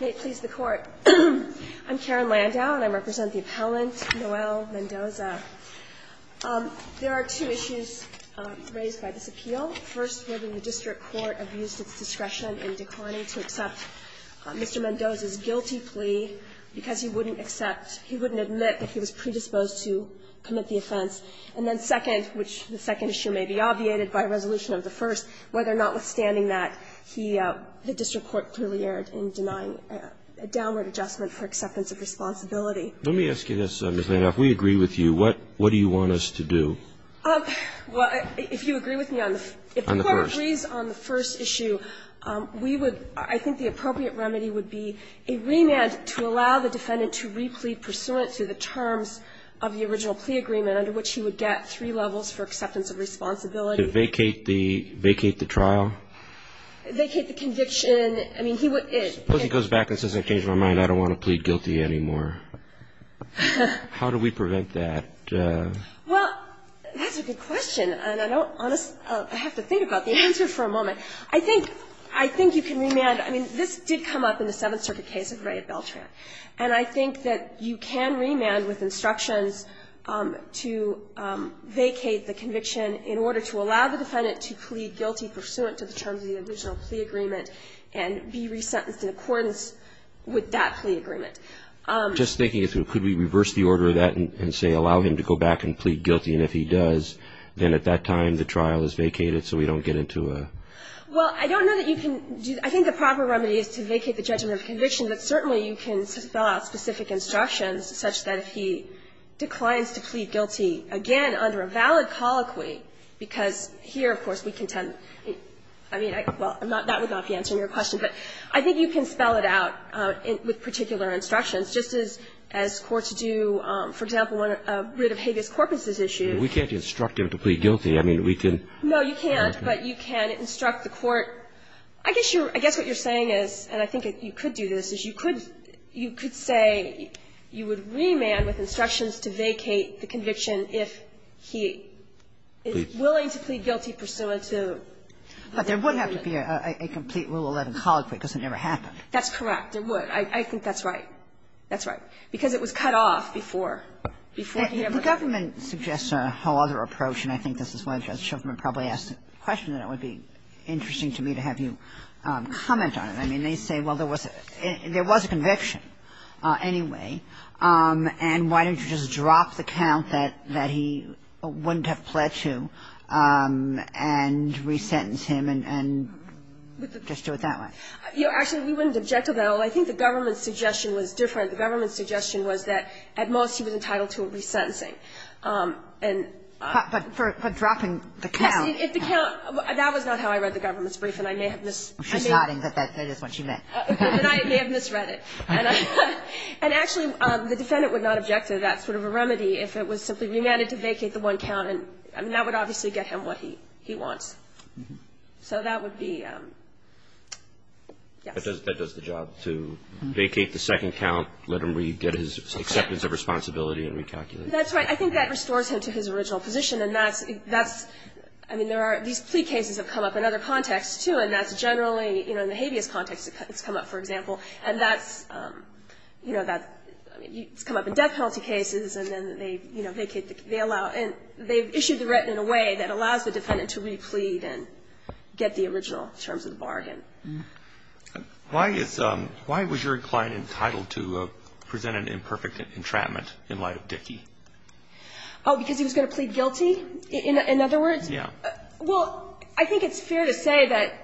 May it please the Court. I'm Karen Landau, and I represent the appellant, Noel Mendoza. There are two issues raised by this appeal. First, whether the district court abused its discretion in declining to accept Mr. Mendoza's guilty plea because he wouldn't accept, he wouldn't admit that he was predisposed to commit the offense. And then second, which the second issue may be obviated by resolution of the first, whether or notwithstanding that, he, the district court clearly erred in denying a downward adjustment for acceptance of responsibility. Let me ask you this, Ms. Landau. If we agree with you, what do you want us to do? Well, if you agree with me on the first issue, we would, I think the appropriate remedy would be a remand to allow the defendant to re-plead pursuant to the terms of the original plea agreement under which he would get three levels for acceptance of responsibility. To vacate the trial? Vacate the conviction. I mean, he would Suppose he goes back and says, I changed my mind. I don't want to plead guilty anymore. How do we prevent that? Well, that's a good question, and I don't honestly have to think about the answer for a moment. I think you can remand. I mean, this did come up in the Seventh Circuit case of Ray and Beltran. And I think that you can remand with instructions to vacate the conviction in order to allow the defendant to plead guilty pursuant to the terms of the original plea agreement and be resentenced in accordance with that plea agreement. Just thinking it through, could we reverse the order of that and say allow him to go back and plead guilty, and if he does, then at that time the trial is vacated so we don't get into a Well, I don't know that you can do that. I think the proper remedy is to vacate the judgment of conviction, but certainly you can spell out specific instructions such that if he declines to plead guilty, again, under a valid colloquy, because here, of course, we contend, I mean, well, that would not be answering your question, but I think you can spell it out with particular instructions, just as courts do, for example, when a writ of habeas corpus is issued. We can't instruct him to plead guilty. I mean, we can No, you can't, but you can instruct the court. I guess what you're saying is, and I think you could do this, is you could say you would remand with instructions to vacate the conviction if he is willing to plead guilty pursuant to But there would have to be a complete Rule 11 colloquy because it never happened. That's correct. There would. I think that's right. That's right. Because it was cut off before, before he ever The government suggests a whole other approach, and I think this is why Judge Shuffman probably asked the question, and it would be interesting to me to have you comment on it. I mean, they say, well, there was a conviction anyway. And why don't you just drop the count that he wouldn't have pledged to and resentence him and just do it that way? You know, actually, we wouldn't object to that at all. I think the government's suggestion was different. The government's suggestion was that at most he was entitled to a resentencing. And But dropping the count If the count That was not how I read the government's brief, and I may have missed She's nodding, but that is what she meant. But I may have misread it. And actually, the defendant would not object to that sort of a remedy if it was simply remanded to vacate the one count. And that would obviously get him what he wants. So that would be That does the job to vacate the second count, let him read, get his acceptance of responsibility, and recalculate. That's right. I think that restores him to his original position. And that's, I mean, there are, these plea cases have come up in other contexts, too, and that's generally, you know, in the habeas context, it's come up, for example. And that's, you know, that's come up in death penalty cases. And then they, you know, they allow and they've issued the written in a way that allows the defendant to replead and get the original terms of the bargain. Why is, why was your client entitled to present an imperfect entrapment in light of Dickey? Oh, because he was going to plead guilty? In other words? Yeah. Well, I think it's fair to say that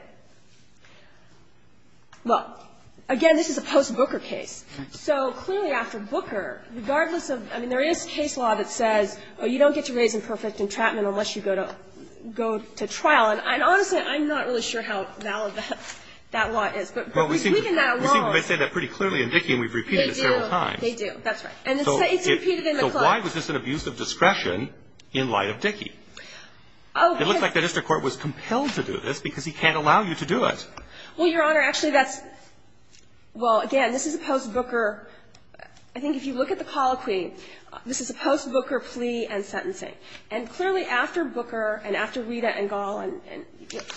Well, again, this is a post-Booker case. So clearly after Booker, regardless of, I mean, there is case law that says, oh, you don't get to raise imperfect entrapment unless you go to, go to trial. And honestly, I'm not really sure how valid that law is. But we've weakened that a lot. Well, we seem to say that pretty clearly in Dickey, and we've repeated it several times. They do. That's right. And it's repeated in McClellan. So why was this an abuse of discretion in light of Dickey? It looks like the district court was compelled to do this because he can't allow you to do it. Well, Your Honor, actually, that's – well, again, this is a post-Booker – I think if you look at the colloquy, this is a post-Booker plea and sentencing. And clearly after Booker and after Rita and Gall and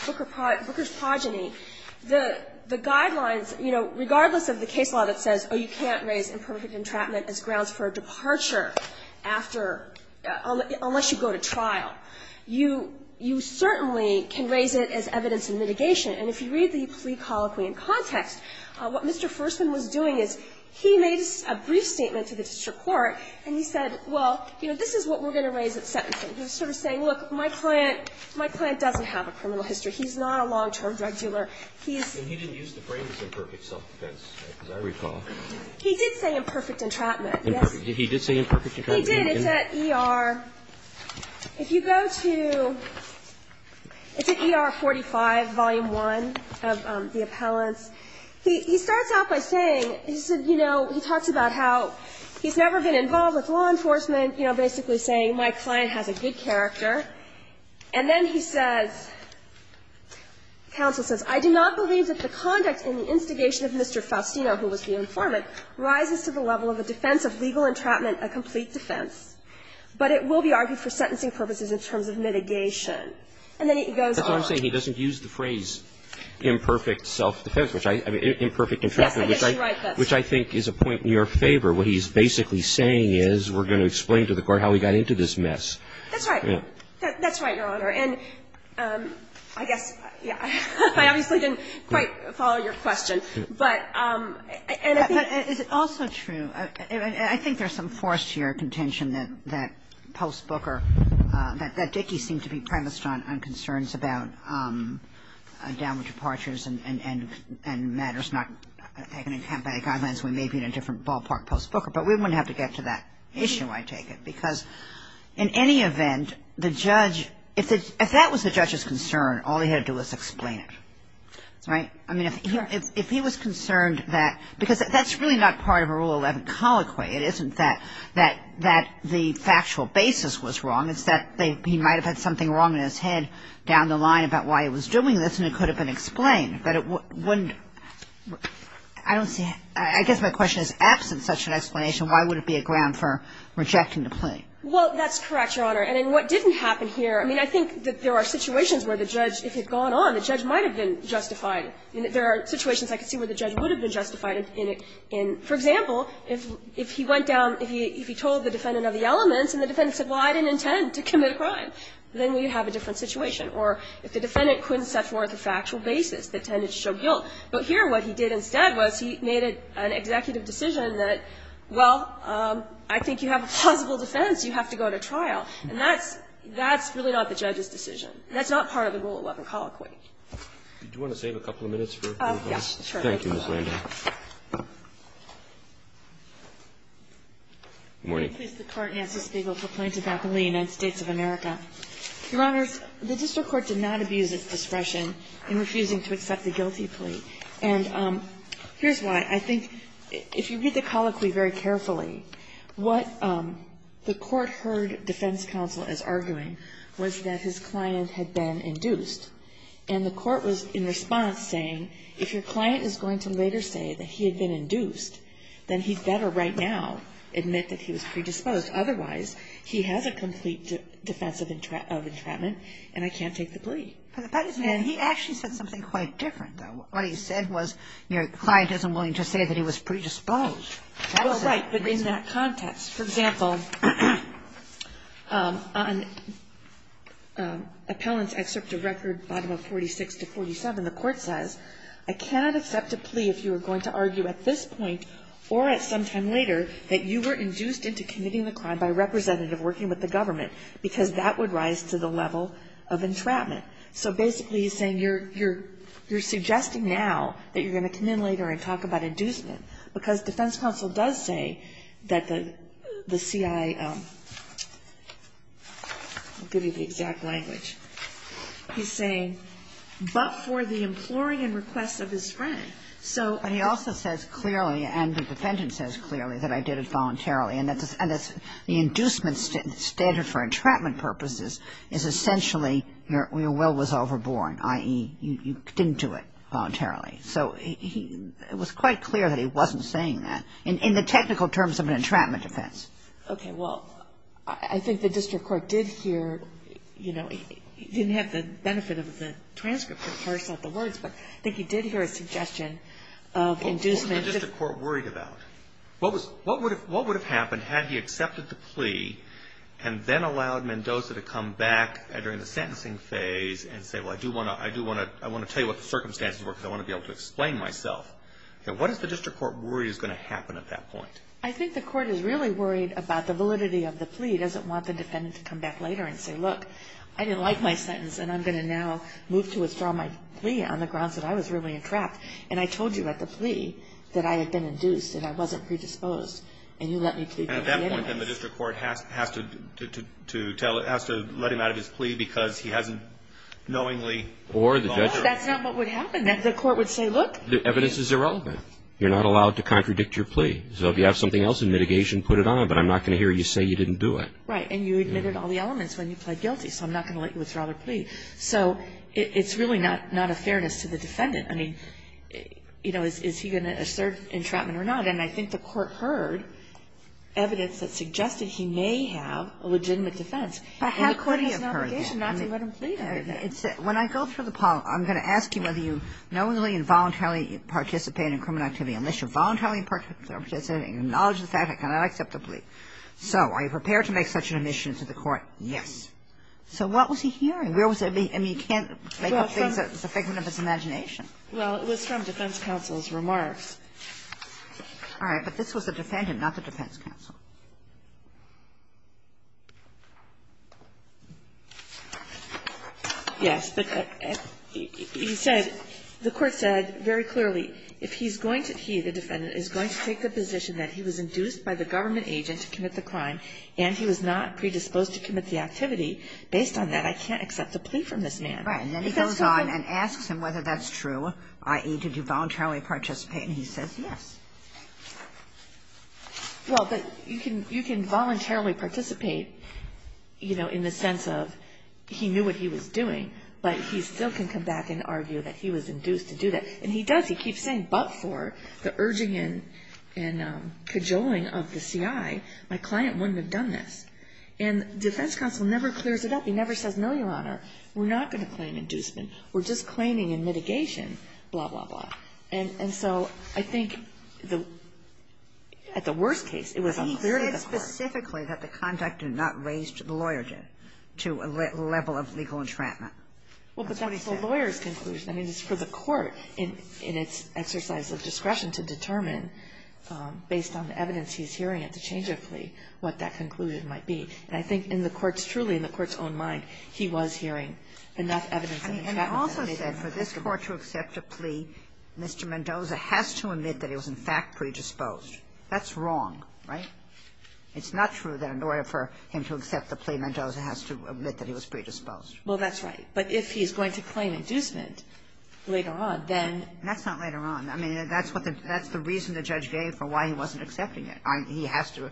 Booker's progeny, the guidelines, you know, regardless of the case law that says, oh, you can't raise imperfect entrapment as grounds for a departure after – unless you go to trial, you certainly can raise it as evidence of mitigation. And if you read the plea colloquy in context, what Mr. Fersman was doing is he made a brief statement to the district court, and he said, well, you know, this is what we're going to raise at sentencing. He was sort of saying, look, my client – my client doesn't have a criminal history. He's not a long-term drug dealer. He's – And he didn't use the phrase imperfect self-defense, as I recall. He did say imperfect entrapment, yes. He did say imperfect entrapment? He did. It's at ER – if you go to – it's at ER 45, Volume 1. He starts out by saying, he said, you know, he talks about how he's never been involved with law enforcement, you know, basically saying my client has a good character. And then he says – counsel says, "...I do not believe that the conduct and the instigation of Mr. Faustino, who was the informant, rises to the level of a defense of legal entrapment, a complete defense, but it will be argued for sentencing purposes in terms of mitigation." And then he goes on to say he doesn't use the phrase. Imperfect self-defense, which I – I mean, imperfect entrapment, which I – Yes, I guess you're right. That's – Which I think is a point in your favor. What he's basically saying is, we're going to explain to the Court how he got into this mess. That's right. Yeah. That's right, Your Honor. And I guess – yeah. I obviously didn't quite follow your question. But – and I think – But is it also true – I think there's some force here, contention, that Post Booker – that Dickey seemed to be premised on concerns about downward departures and matters not taken in combatting violence when maybe in a different ballpark, Post Booker. But we wouldn't have to get to that issue, I take it. Because in any event, the judge – if that was the judge's concern, all he had to do was explain it, right? I mean, if he was concerned that – because that's really not part of a Rule 11 colloquy. It isn't that – that the factual basis was wrong. It's that he might have had something wrong in his head down the line about why he was doing this, and it could have been explained. But it wouldn't – I don't see – I guess my question is, absent such an explanation, why would it be a ground for rejecting the plea? Well, that's correct, Your Honor. And in what didn't happen here – I mean, I think that there are situations where the judge – if it had gone on, the judge might have been justified. There are situations I could see where the judge would have been justified in – for example, if he went down – if he told the defendant of the elements, and the defendant said, well, I didn't intend to commit a crime, then we would have a different situation, or if the defendant couldn't set forth a factual basis that tended to show guilt. But here, what he did instead was he made an executive decision that, well, I think you have a plausible defense, you have to go to trial. And that's – that's really not the judge's decision. That's not part of the Rule 11 colloquy. Roberts. Do you want to save a couple of minutes for a few minutes? Yes, sure. Thank you, Ms. Landau. Good morning. I'm pleased to court Nancy Spiegel for plaintiff-appellee, United States of America. Your Honors, the district court did not abuse its discretion in refusing to accept the guilty plea. And here's why. I think if you read the colloquy very carefully, what the court heard defense counsel as arguing was that his client had been induced, and the court was, in response, saying, if your client is going to later say that he had been induced, then he's better right now admit that he was predisposed, otherwise he has a complete defense of entrapment and I can't take the plea. But he actually said something quite different, though. What he said was, your client isn't willing to say that he was predisposed. Well, right. But in that context, for example, on appellant's excerpt of record bottom of 46 to 47, the court says, I cannot accept a plea if you are going to argue at this point or at some time later that you were induced into committing the crime by a representative working with the government, because that would rise to the level of entrapment. So basically he's saying, you're suggesting now that you're going to come in later and talk about inducement. Because defense counsel does say that the CI, I'll give you the exact language. He's saying, but for the imploring and request of his friend. So he also says clearly, and the defendant says clearly, that I did it voluntarily. And that's the inducement standard for entrapment purposes is essentially your will was overborne, i.e., you didn't do it voluntarily. So it was quite clear that he wasn't saying that, in the technical terms of an entrapment defense. Okay. Well, I think the district court did hear, you know, he didn't have the benefit of the transcript to parse out the words, but I think he did hear a suggestion of inducement. What was the district court worried about? What would have happened had he accepted the plea and then allowed Mendoza to come back during the sentencing phase and say, well, I do want to tell you what the circumstances were, because I want to be able to explain myself. What is the district court worry is going to happen at that point? I think the court is really worried about the validity of the plea. It doesn't want the defendant to come back later and say, look, I didn't like my sentence, and I'm going to now move to withdraw my plea on the grounds that I was really entrapped, and I told you at the plea that I had been induced and I wasn't predisposed, and you let me plead with the enemies. And at that point, then, the district court has to let him out of his plea because he hasn't knowingly gone through it. That's not what would happen. The court would say, look. The evidence is irrelevant. You're not allowed to contradict your plea. So if you have something else in mitigation, put it on, but I'm not going to hear you say you didn't do it. Right. And you admitted all the elements when you pled guilty, so I'm not going to let you withdraw the plea. So it's really not a fairness to the defendant. I mean, you know, is he going to assert entrapment or not? And I think the court heard evidence that suggested he may have a legitimate defense. But how could he have heard that? The court has an obligation not to let him plead after that. When I go through the poll, I'm going to ask you whether you knowingly and voluntarily participate in criminal activity, unless you're voluntarily participating, acknowledge the fact that I cannot accept the plea. So are you prepared to make such an admission to the court? Yes. So what was he hearing? Where was the be – I mean, you can't make up things that's a figment of his imagination. Well, it was from defense counsel's remarks. All right. But this was the defendant, not the defense counsel. Yes. But he said – the court said very clearly, if he's going to – he, the defendant, is going to take the position that he was induced by the government agent to commit the crime and he was not predisposed to commit the activity, based on that, I can't accept the plea from this man. Right. And then he goes on and asks him whether that's true, i.e., did you voluntarily participate, and he says yes. Well, you can voluntarily participate, you know, in the sense of he knew what he was doing, but he still can come back and argue that he was induced to do that. And he does. He keeps saying, but for the urging and cajoling of the C.I., my client wouldn't have done this. And defense counsel never clears it up. He never says, no, Your Honor, we're not going to claim inducement. We're just claiming in mitigation, blah, blah, blah. And so I think the – at the worst case, it was unclear to the court. But he said specifically that the conduct did not raise the loyalty to a level of legal entrapment. That's what he said. Well, but that's the lawyer's conclusion. I mean, it's for the court, in its exercise of discretion, to determine, based on the evidence he's hearing at the change of plea, what that conclusion might be. And I think in the court's – truly, in the court's own mind, he was hearing enough evidence of entrapment that it made sense to accept the plea. And he also said for this court to accept a plea, Mr. Mendoza has to admit that he was, in fact, predisposed. That's wrong, right? It's not true that in order for him to accept the plea, Mendoza has to admit that he was predisposed. Well, that's right. But if he's going to claim inducement later on, then – That's not later on. I mean, that's what the – that's the reason the judge gave for why he wasn't accepting it. He has to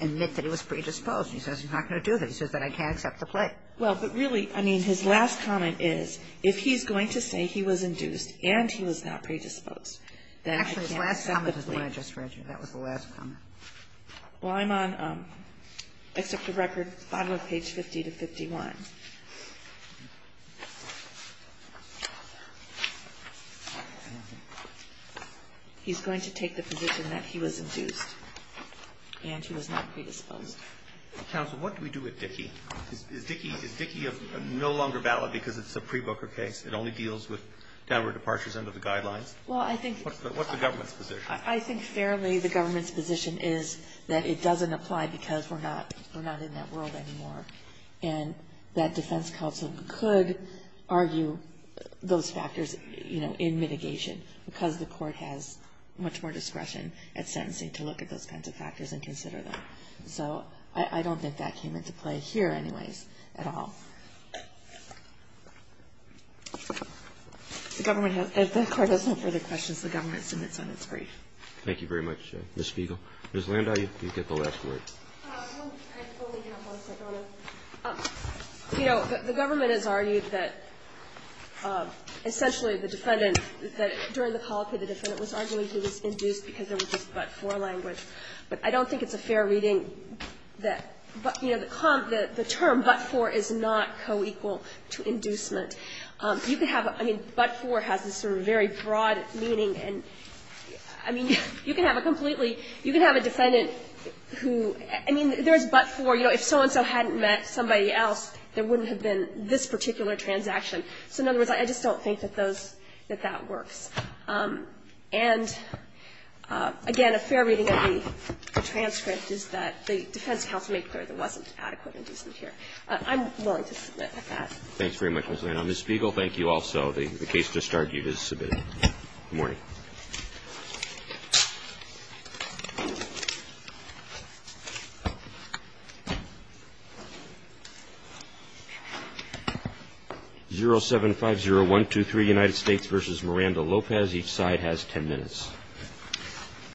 admit that he was predisposed. He says he's not going to do that. He says that I can't accept the plea. Well, but really, I mean, his last comment is, if he's going to say he was induced and he was not predisposed, then he can't accept the plea. Actually, his last comment is the one I just read you. That was the last comment. Well, I'm on – I took the record, bottom of page 50 to 51. He's going to take the position that he was induced and he was not predisposed. Counsel, what do we do with Dickey? Is Dickey – is Dickey no longer valid because it's a pre-Boker case? It only deals with downward departures under the guidelines? Well, I think – What's the government's position? I think fairly the government's position is that it doesn't apply because we're not in that world anymore and that defense counsel could argue those factors, you know, in mitigation because the court has much more discretion at sentencing to look at those kinds of factors and consider them. So I don't think that came into play here anyways at all. The government has – if the court has no further questions, the government submits on its brief. Thank you very much, Ms. Spiegel. Ms. Landau, you get the last word. I only have one second on it. You know, the government has argued that essentially the defendant – that during the colloquy, the defendant was arguing he was induced because there was just but-for language. But I don't think it's a fair reading that – you know, the term but-for is not co-equal to inducement. You could have – I mean, but-for has this sort of very broad meaning and, I mean, you can have a completely – you can have a defendant who – I mean, there's but-for. You know, if so-and-so hadn't met somebody else, there wouldn't have been this particular transaction. So in other words, I just don't think that those – that that works. And again, a fair reading of the transcript is that the defense counsel made clear there wasn't adequate inducement here. I'm willing to submit at that. Thanks very much, Ms. Lano. Ms. Spiegel, thank you also. The case just argued is submitted. Good morning. 0750123, United States v. Miranda Lopez. Each side has 10 minutes.